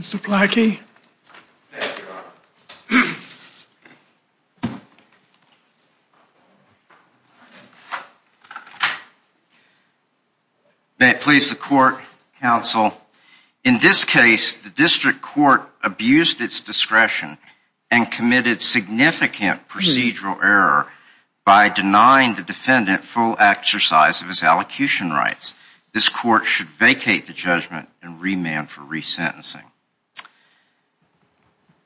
Mr. Plotky. May it please the court, counsel. In this case, the district court abused its discretion and committed significant procedural error by denying the defendant full exercise of his allocution rights. This court should vacate the judgment and remand for resentencing.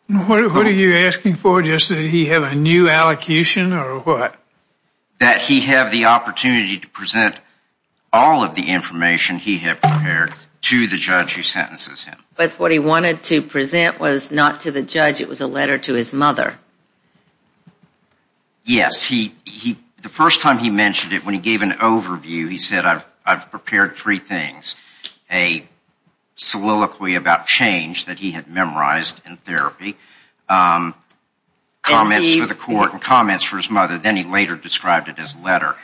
What are you asking for, just that he have a new allocation or what? That he have the opportunity to present all of the information he had prepared to the judge who sentences him. But what he wanted to present was not to the judge, it was a letter to his mother. Yes, the first time he mentioned it, when he gave an overview, he said, I've prepared three things. A soliloquy about change that he had memorized in therapy, comments for the court and comments for his mother, then he later described it as a letter.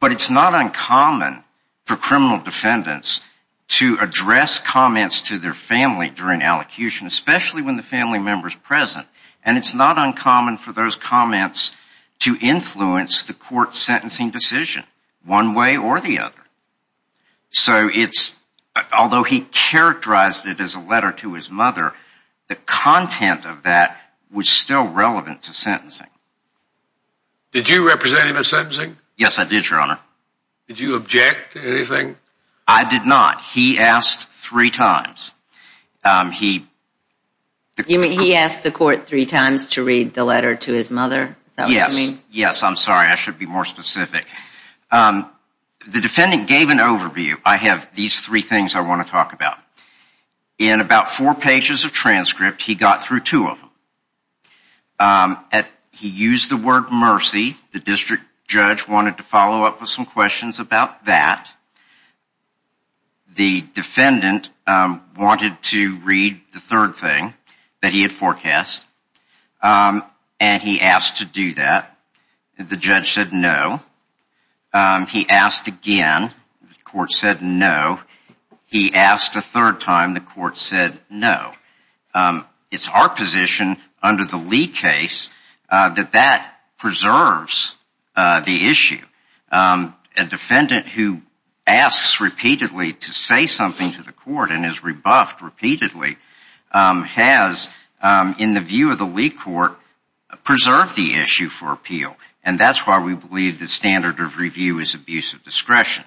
But it's not uncommon for criminal defendants to address comments to their family during allocution, especially when the family member is present. And it's not uncommon for those comments to influence the court sentencing decision one way or the other. So it's although he characterized it as a letter to his mother, the content of that was still relevant to sentencing. Did you represent him in sentencing? Yes, I did, Your Honor. Did you object to anything? I did not. He asked three times. He asked the court three times to read the letter to his mother? Yes, I'm sorry, I should be more specific. The defendant gave an overview, I have these three things I want to talk about. In about four pages of transcript, he got through two of them. He used the word mercy, the district judge wanted to follow up with some questions about that. The defendant wanted to read the third thing that he had forecast, and he asked to do that. The judge said no. He asked again, the court said no. He asked a third time, the court said no. It's our position under the Lee case that that preserves the issue. A defendant who asks repeatedly to say something to the court and is rebuffed repeatedly has, in the view of the Lee court, preserved the issue for appeal, and that's why we believe the standard of review is abuse of discretion.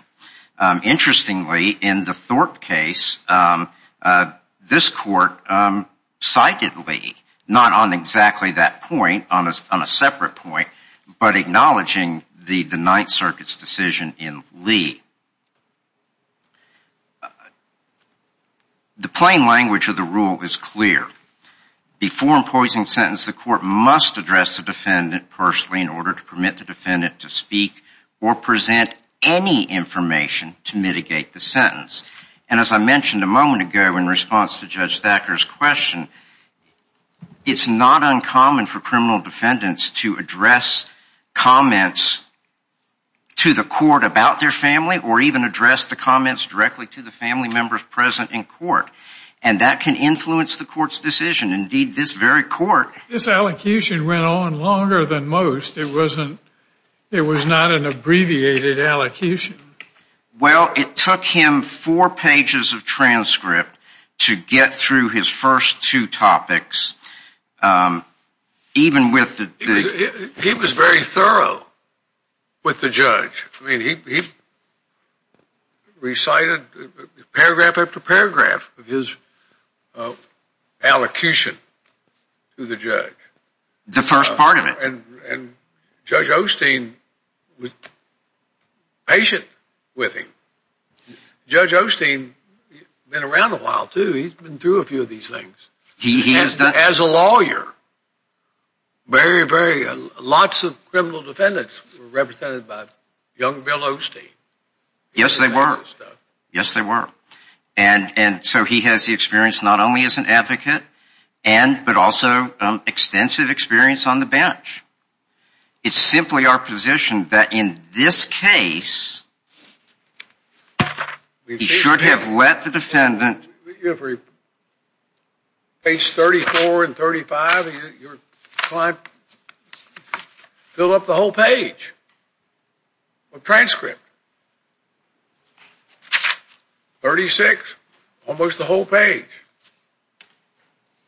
Interestingly, in the Thorpe case, this court cited Lee, not on exactly that point, on a separate point, but acknowledging the Ninth Circuit's decision in Lee. The plain language of the rule is clear. Before imposing a sentence, the court must address the defendant personally in order to permit the defendant to speak or present any information to mitigate the sentence. And as I mentioned a moment ago in response to Judge Thacker's question, it's not uncommon for criminal defendants to address comments to the court about their family or even address the comments directly to the family members present in court, and that can influence the court's decision. Indeed, this very court... This allocation went on longer than most. It was not an abbreviated allocation. Well, it took him four pages of transcript to get through his first two topics, even with the... He was very thorough with the judge. I mean, he recited paragraph after paragraph of his allocution to the judge. The first part of it. And Judge Osteen was patient with him. Judge Osteen has been around a while, too. He's been through a few of these things. He has done... As a lawyer, very, very... Lots of criminal defendants were represented by young Bill Osteen. Yes, they were. Yes, they were. And so he has the experience not only as an advocate, but also extensive experience on the bench. It's simply our position that in this case, he should have let the defendant... Page 34 and 35, your client filled up the whole page of transcript. 36, almost the whole page.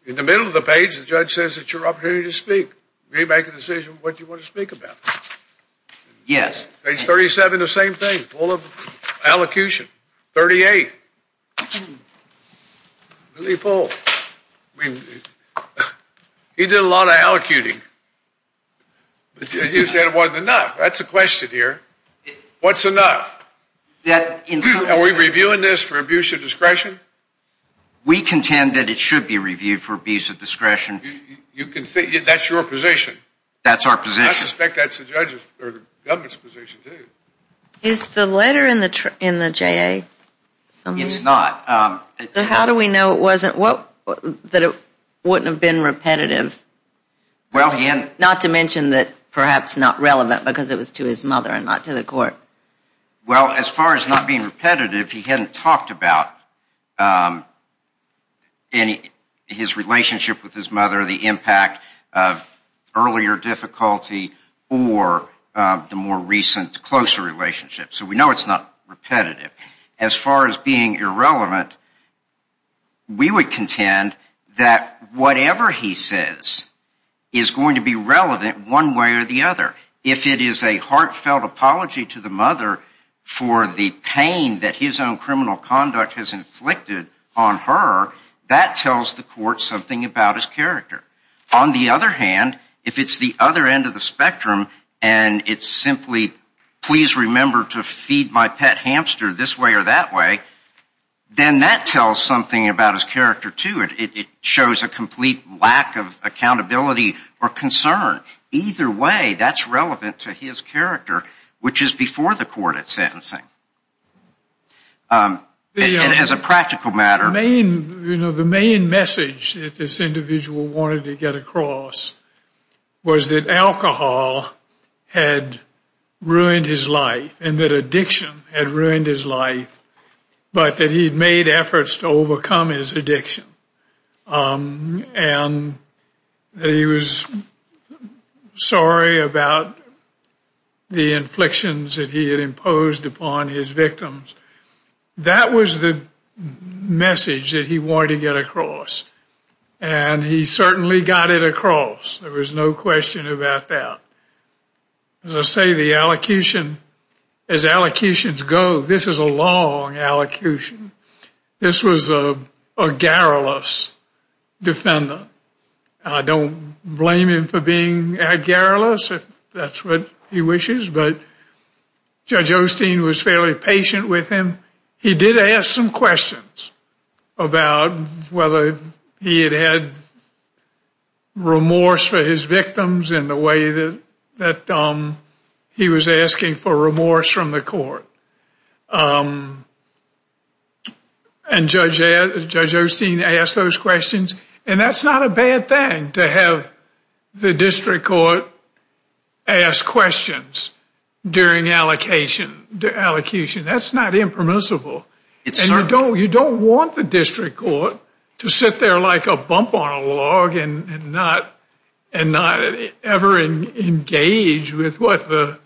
In the middle of the page, the judge says it's your opportunity to speak. You make a decision what you want to speak about. Yes. Page 37, the same thing. Full of allocution. 38. Really full. He did a lot of allocuting. You said it wasn't enough. That's the question here. What's enough? Are we reviewing this for abuse of discretion? We contend that it should be reviewed for abuse of discretion. That's your position? That's our position. I suspect that's the government's position, too. Is the letter in the JA? It's not. So how do we know it wasn't, that it wouldn't have been repetitive? Not to mention that perhaps not relevant because it was to his mother and not to the court. Well, as far as not being repetitive, he hadn't talked about his relationship with his mother, the impact of earlier difficulty or the more recent closer relationship. So we know it's not repetitive. As far as being irrelevant, we would contend that whatever he says is going to be relevant one way or the other. If it is a heartfelt apology to the mother for the pain that his own criminal conduct has inflicted on her, that tells the court something about his character. On the other hand, if it's the other end of the spectrum and it's simply, please remember to feed my pet hamster this way or that way, then that tells something about his character, too. It shows a complete lack of accountability or concern. Either way, that's relevant to his character, which is before the court at sentencing. And as a practical matter. The main message that this individual wanted to get across was that alcohol had ruined his life and that addiction had ruined his life, but that he'd made efforts to overcome his addiction. And he was sorry about the inflictions that he had imposed upon his victims. That was the message that he wanted to get across. And he certainly got it across. There was no question about that. As I say, the allocution, as allocutions go, this is a long allocution. This was a garrulous defendant. I don't blame him for being garrulous if that's what he wishes, but Judge Osteen was fairly patient with him. He did ask some questions about whether he had had remorse for his victims in the way that he was asking for remorse from the court. And Judge Osteen asked those questions. And that's not a bad thing to have the district court ask questions during allocation. That's not impermissible. And you don't want the district court to sit there like a bump on a log and not ever engage with what the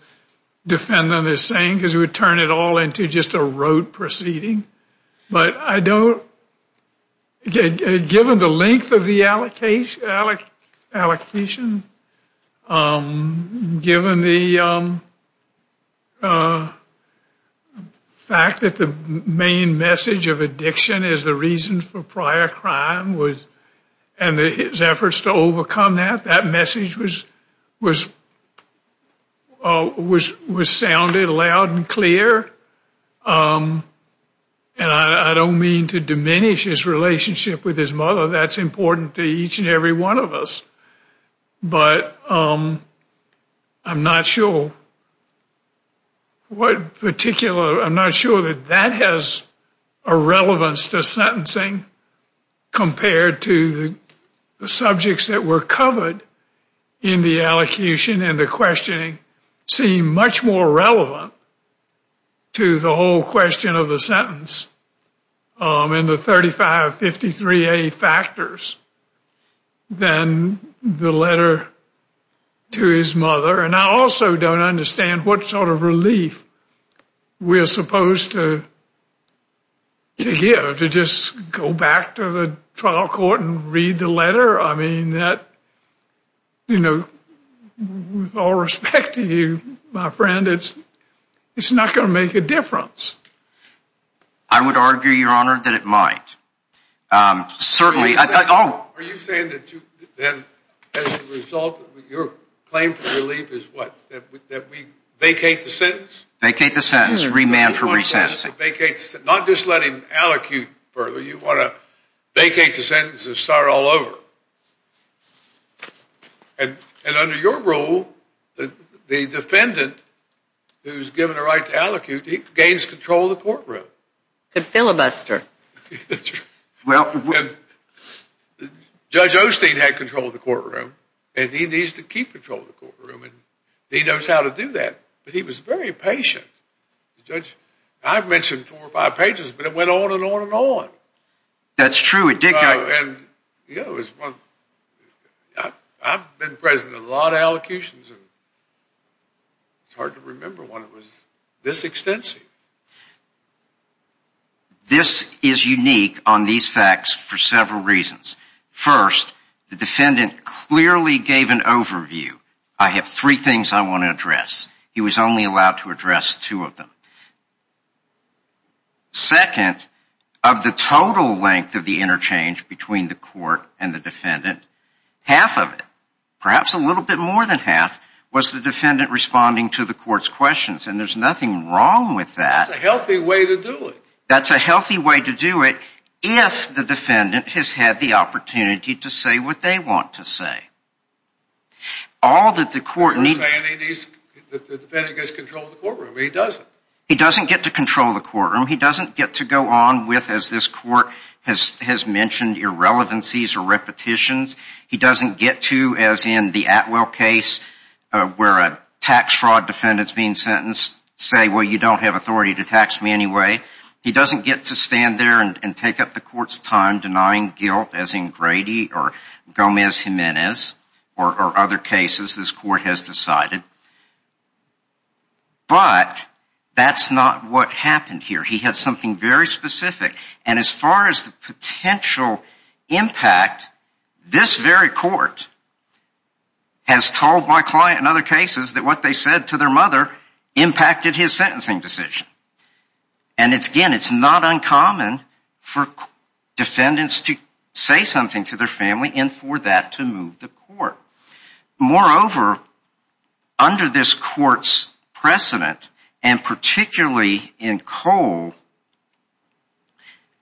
defendant is saying because it would turn it all into just a rote proceeding. Given the length of the allocation, given the fact that the main message of addiction is the reason for prior crime and his efforts to overcome that, that message was sounded loud and clear. And I don't mean to diminish his relationship with his mother. That's important to each and every one of us. But I'm not sure what particular, I'm not sure that that has a relevance to sentencing compared to the subjects that were covered in the allocation and the questioning seem much more relevant to the whole question of the sentence and the 3553A factors than the letter to his mother. And I also don't understand what sort of relief we're supposed to give to just go back to the trial court and read the letter. I mean that, you know, with all respect to you, my friend, it's not going to make a difference. I would argue, Your Honor, that it might. Are you saying that as a result of your claim for relief is what? That we vacate the sentence? Vacate the sentence. Remand for resentencing. Not just let him allocute further. You want to vacate the sentence and start all over. And under your rule, the defendant who's given a right to allocute, he gains control of the courtroom. Could filibuster. Well, Judge Osteen had control of the courtroom and he needs to keep control of the courtroom and he knows how to do that. But he was very patient. I've mentioned four or five pages, but it went on and on and on. That's true. And, you know, I've been present in a lot of allocutions and it's hard to remember one that was this extensive. This is unique on these facts for several reasons. First, the defendant clearly gave an overview. I have three things I want to address. He was only allowed to address two of them. Second, of the total length of the interchange between the court and the defendant, half of it, perhaps a little bit more than half, was the defendant responding to the court's questions. And there's nothing wrong with that. That's a healthy way to do it. That's a healthy way to do it if the defendant has had the opportunity to say what they want to say. All that the court needs... You're saying the defendant gets control of the courtroom. He doesn't. He doesn't get to control the courtroom. He doesn't get to go on with, as this court has mentioned, irrelevancies or repetitions. He doesn't get to, as in the Atwell case where a tax fraud defendant is being sentenced, say, well, you don't have authority to tax me anyway. He doesn't get to stand there and take up the court's time denying guilt, as in Grady or Gomez Jimenez or other cases this court has decided. But that's not what happened here. He had something very specific. And as far as the potential impact, this very court has told my client in other cases that what they said to their mother impacted his sentencing decision. And, again, it's not uncommon for defendants to say something to their family and for that to move the court. Moreover, under this court's precedent, and particularly in Cole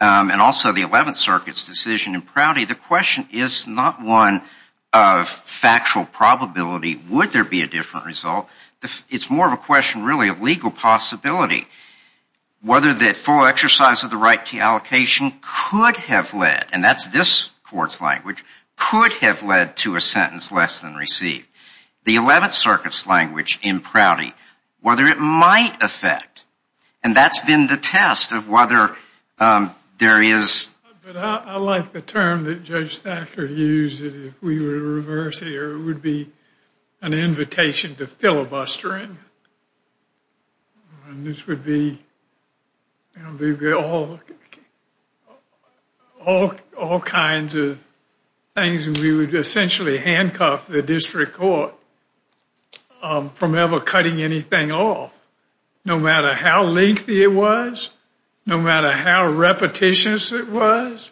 and also the Eleventh Circuit's decision in Prouty, the question is not one of factual probability. Would there be a different result? It's more of a question, really, of legal possibility. Whether the full exercise of the right to allocation could have led, and that's this court's language, could have led to a sentence less than received. The Eleventh Circuit's language in Prouty, whether it might affect, and that's been the test of whether there is. I like the term that Judge Thacker used. If we were to reverse it, it would be an invitation to filibustering. This would be all kinds of things. We would essentially handcuff the district court from ever cutting anything off, no matter how lengthy it was, no matter how repetitious it was,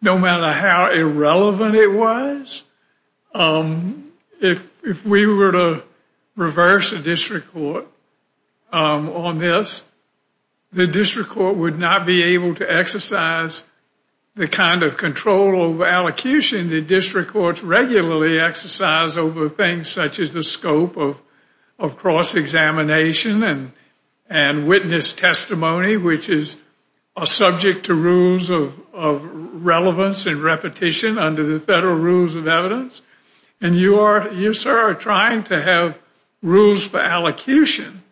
no matter how irrelevant it was. If we were to reverse the district court on this, the district court would not be able to exercise the kind of control over allocation that district courts regularly exercise over things such as the scope of cross-examination and witness testimony, which is subject to rules of relevance and repetition under the federal rules of evidence. And you, sir, are trying to have rules for allocation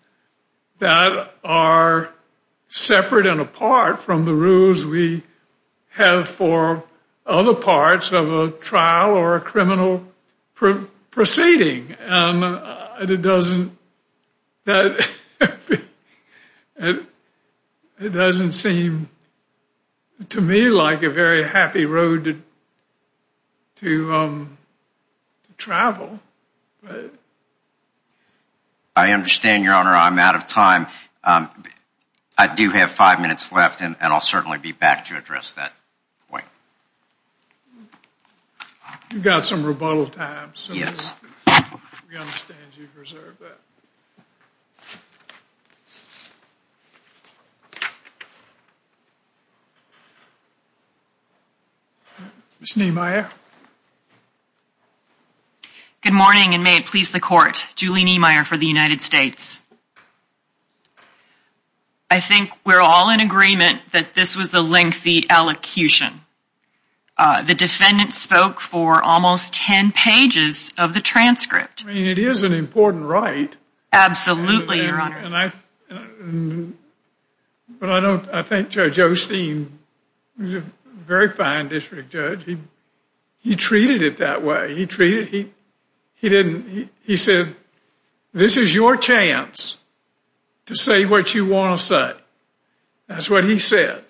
that are separate and apart from the rules we have for other parts of a trial or a criminal proceeding. It doesn't seem to me like a very happy road to travel. I understand, Your Honor. I'm out of time. I do have five minutes left, and I'll certainly be back to address that point. You've got some rebuttal time, so we understand you've reserved that. Ms. Niemeyer. Good morning, and may it please the Court. Julie Niemeyer for the United States. I think we're all in agreement that this was a lengthy allocation. The defendant spoke for almost ten pages of the transcript. I mean, it is an important right. Absolutely, Your Honor. But I think Judge Osteen was a very fine district judge. He treated it that way. He said, this is your chance to say what you want to say. That's what he said.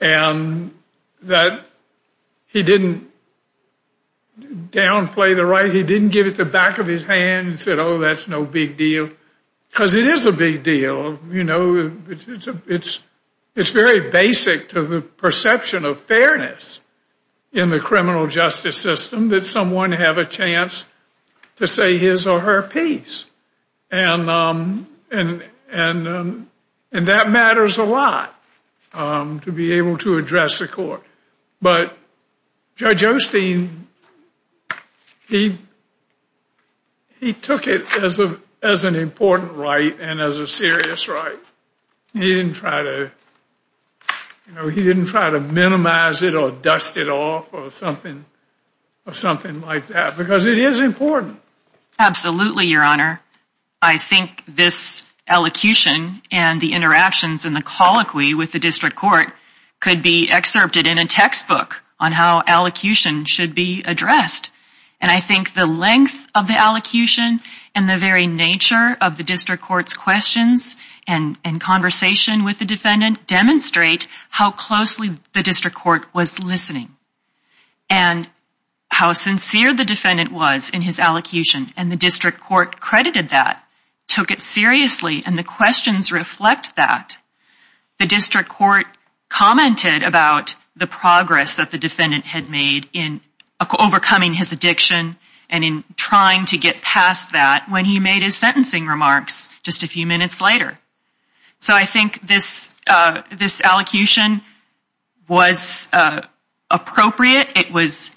And he didn't downplay the right. He didn't give it the back of his hand and said, oh, that's no big deal. Because it is a big deal. You know, it's very basic to the perception of fairness in the criminal justice system that someone have a chance to say his or her piece. And that matters a lot to be able to address the Court. But Judge Osteen, he took it as an important right and as a serious right. He didn't try to minimize it or dust it off or something like that. Because it is important. Absolutely, Your Honor. I think this elocution and the interactions and the colloquy with the district court could be excerpted in a textbook on how elocution should be addressed. And I think the length of the elocution and the very nature of the district court's questions and conversation with the defendant demonstrate how closely the district court was listening and how sincere the defendant was in his elocution. And the district court credited that, took it seriously, and the questions reflect that. The district court commented about the progress that the defendant had made in overcoming his addiction and in trying to get past that when he made his sentencing remarks just a few minutes later. So I think this elocution was appropriate. It was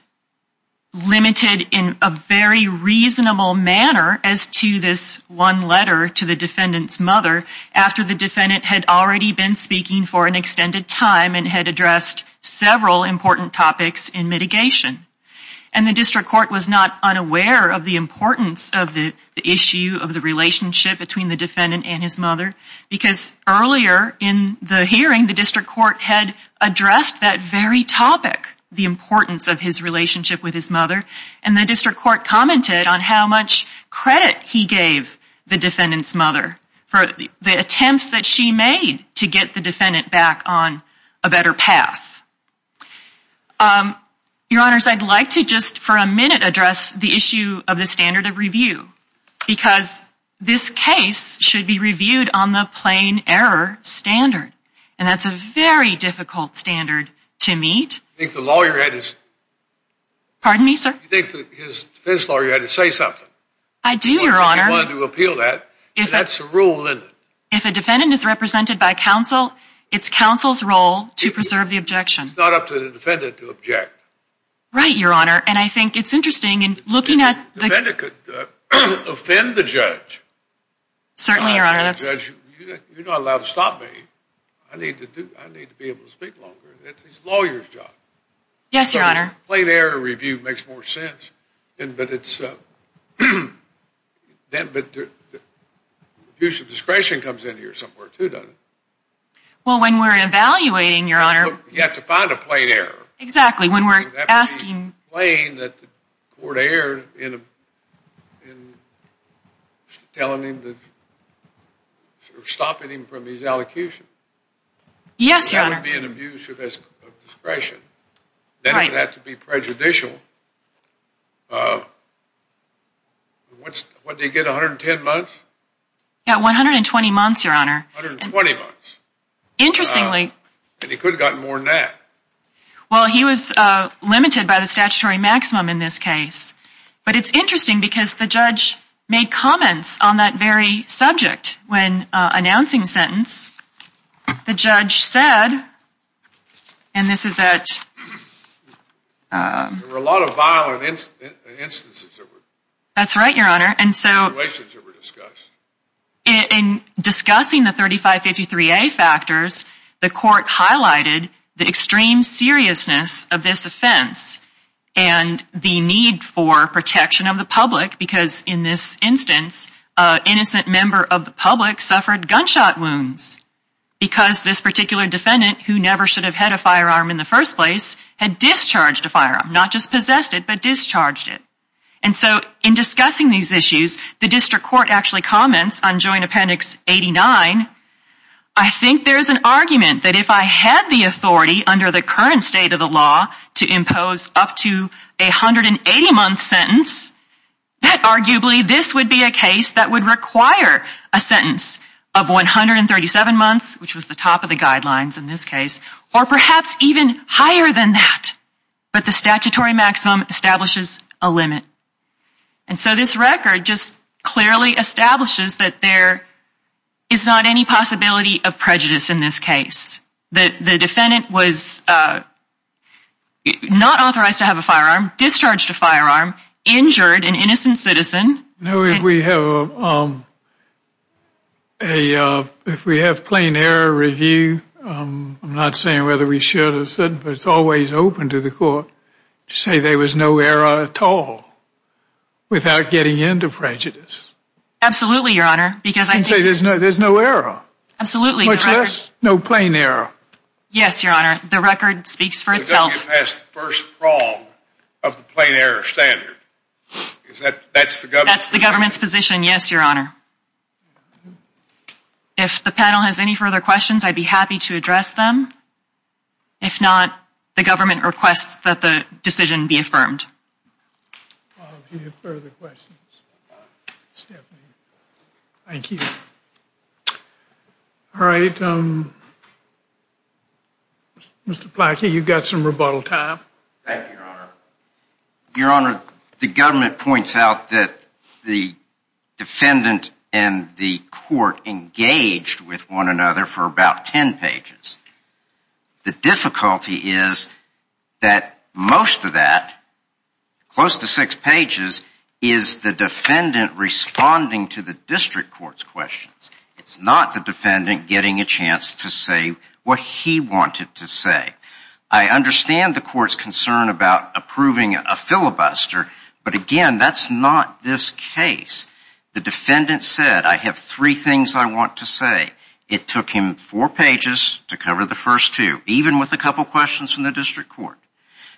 limited in a very reasonable manner as to this one letter to the defendant's mother after the defendant had already been speaking for an extended time and had addressed several important topics in mitigation. And the district court was not unaware of the importance of the issue, of the relationship between the defendant and his mother, because earlier in the hearing the district court had addressed that very topic, the importance of his relationship with his mother, and the district court commented on how much credit he gave the defendant's mother for the attempts that she made to get the defendant back on a better path. Your Honors, I'd like to just for a minute address the issue of the standard of review because this case should be reviewed on the plain error standard, and that's a very difficult standard to meet. You think the lawyer had his... Pardon me, sir? You think his defense lawyer had to say something? I do, Your Honor. He wanted to appeal that, and that's a rule, isn't it? If a defendant is represented by counsel, it's counsel's role to preserve the objection. It's not up to the defendant to object. Right, Your Honor, and I think it's interesting in looking at the... Offend the judge. Certainly, Your Honor. You're not allowed to stop me. I need to be able to speak longer. It's the lawyer's job. Yes, Your Honor. Plain error review makes more sense, but it's... Abuse of discretion comes in here somewhere, too, doesn't it? Well, when we're evaluating, Your Honor... You have to find a plain error. Exactly, when we're asking... Explain that the court erred in telling him to... Stopping him from his elocution. Yes, Your Honor. That would be an abuse of discretion. Right. Then it would have to be prejudicial. What did he get, 110 months? Yeah, 120 months, Your Honor. 120 months. Interestingly. And he could have gotten more than that. Well, he was limited by the statutory maximum in this case. But it's interesting because the judge made comments on that very subject when announcing the sentence. The judge said, and this is at... There were a lot of violent instances. That's right, Your Honor. And so... Situations that were discussed. In discussing the 3553A factors, the court highlighted the extreme seriousness of this offense and the need for protection of the public because, in this instance, an innocent member of the public suffered gunshot wounds because this particular defendant, who never should have had a firearm in the first place, had discharged a firearm. Not just possessed it, but discharged it. And so, in discussing these issues, the district court actually comments on Joint Appendix 89, I think there's an argument that if I had the authority, under the current state of the law, to impose up to a 180-month sentence, that arguably this would be a case that would require a sentence of 137 months, which was the top of the guidelines in this case, or perhaps even higher than that. But the statutory maximum establishes a limit. And so this record just clearly establishes that there is not any possibility of prejudice in this case. That the defendant was not authorized to have a firearm, discharged a firearm, injured an innocent citizen. No, if we have a plain error review, I'm not saying whether we should or shouldn't, but it's always open to the court to say there was no error at all without getting into prejudice. Absolutely, Your Honor. You can say there's no error. Absolutely. Much less no plain error. Yes, Your Honor. The record speaks for itself. We've got to get past the first prong of the plain error standard. Because that's the government's position. That's the government's position, yes, Your Honor. If the panel has any further questions, I'd be happy to address them. If not, the government requests that the decision be affirmed. If you have further questions, Stephanie. Thank you. All right, Mr. Plotkin, you've got some rebuttal time. Thank you, Your Honor. Your Honor, the government points out that the defendant and the court engaged with one another for about 10 pages. The difficulty is that most of that, close to six pages, is the defendant responding to the district court's questions. It's not the defendant getting a chance to say what he wanted to say. I understand the court's concern about approving a filibuster, but, again, that's not this case. The defendant said, I have three things I want to say. It took him four pages to cover the first two, even with a couple questions from the district court.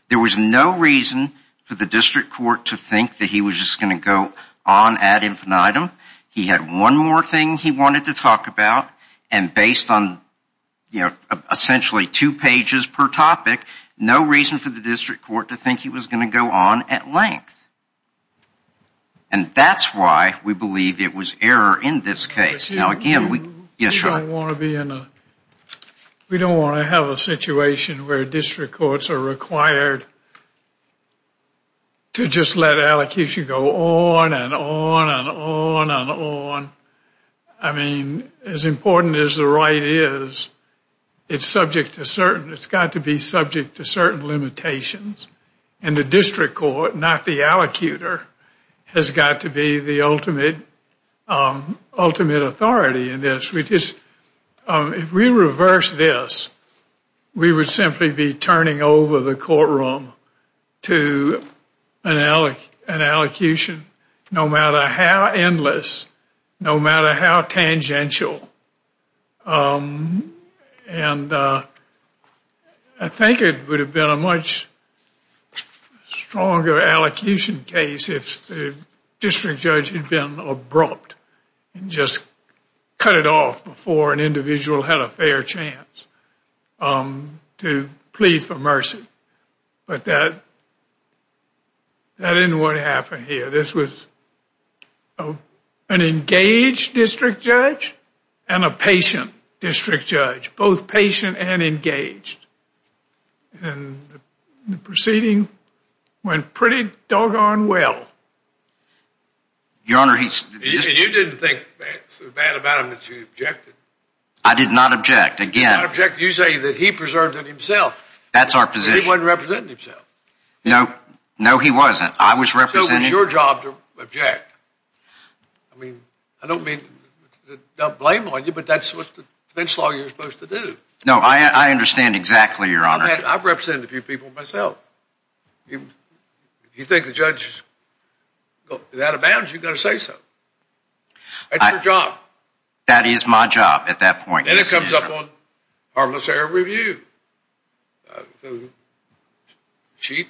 There was no reason for the district court to think that he was just going to go on ad infinitum. He had one more thing he wanted to talk about, and based on essentially two pages per topic, no reason for the district court to think he was going to go on at length. And that's why we believe it was error in this case. Yes, sir? We don't want to have a situation where district courts are required to just let allocution go on and on and on and on. I mean, as important as the right is, it's got to be subject to certain limitations, and the district court, not the allocutor, has got to be the ultimate authority in this. If we reverse this, we would simply be turning over the courtroom to an allocution, no matter how endless, no matter how tangential. And I think it would have been a much stronger allocution case if the district judge had been abrupt and just cut it off before an individual had a fair chance to plead for mercy. But that isn't what happened here. This was an engaged district judge and a patient district judge, both patient and engaged. And the proceeding went pretty doggone well. You didn't think so bad about him that you objected? I did not object. You say that he preserved it himself. That's our position. But he wasn't representing himself. No, he wasn't. It was your job to object. I mean, I don't mean to blame on you, but that's what the bench law you're supposed to do. No, I understand exactly, Your Honor. I've represented a few people myself. If you think the judge is out of bounds, you've got to say so. That's your job. That is my job at that point. Then it comes up on harmless error review. She's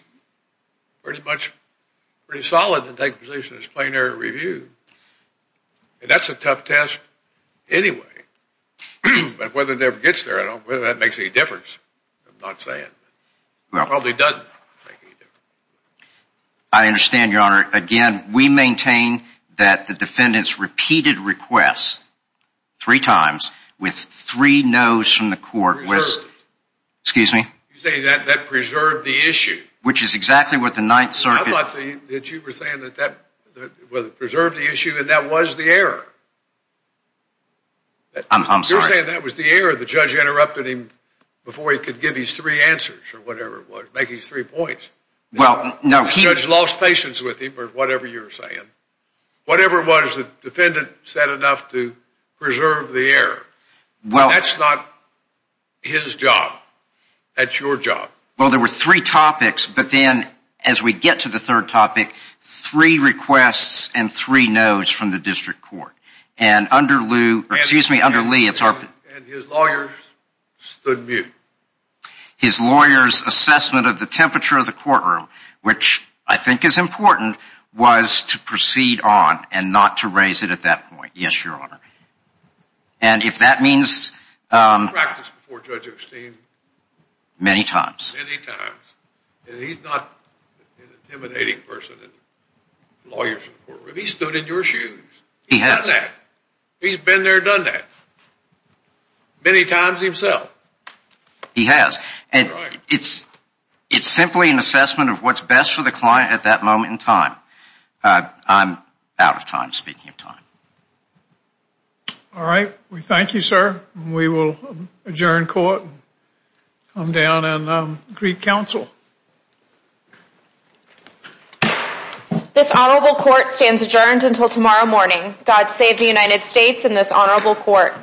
pretty solid to take position as plain error review. That's a tough test anyway. But whether it ever gets there, I don't know whether that makes any difference. I'm not saying. It probably doesn't make any difference. I understand, Your Honor. Your Honor, again, we maintain that the defendant's repeated requests three times with three no's from the court was... Excuse me? You say that that preserved the issue. Which is exactly what the Ninth Circuit... I thought that you were saying that that preserved the issue and that was the error. I'm sorry. You're saying that was the error. The judge interrupted him before he could give his three answers or whatever it was, make his three points. Well, no. The judge lost patience with him or whatever you're saying. Whatever it was the defendant said enough to preserve the error. That's not his job. That's your job. Well, there were three topics, but then as we get to the third topic, three requests and three no's from the district court. And under Lee, it's our... And his lawyers stood mute. His lawyers' assessment of the temperature of the courtroom, which I think is important, was to proceed on and not to raise it at that point. Yes, Your Honor. And if that means... He's practiced before Judge Osteen. Many times. Many times. And he's not an intimidating person to lawyers in the courtroom. He's stood in your shoes. He has. He's done that. He's been there, done that. Many times himself. He has. And it's simply an assessment of what's best for the client at that moment in time. I'm out of time speaking of time. All right. We thank you, sir. We will adjourn court and come down and greet counsel. This honorable court stands adjourned until tomorrow morning. God save the United States and this honorable court.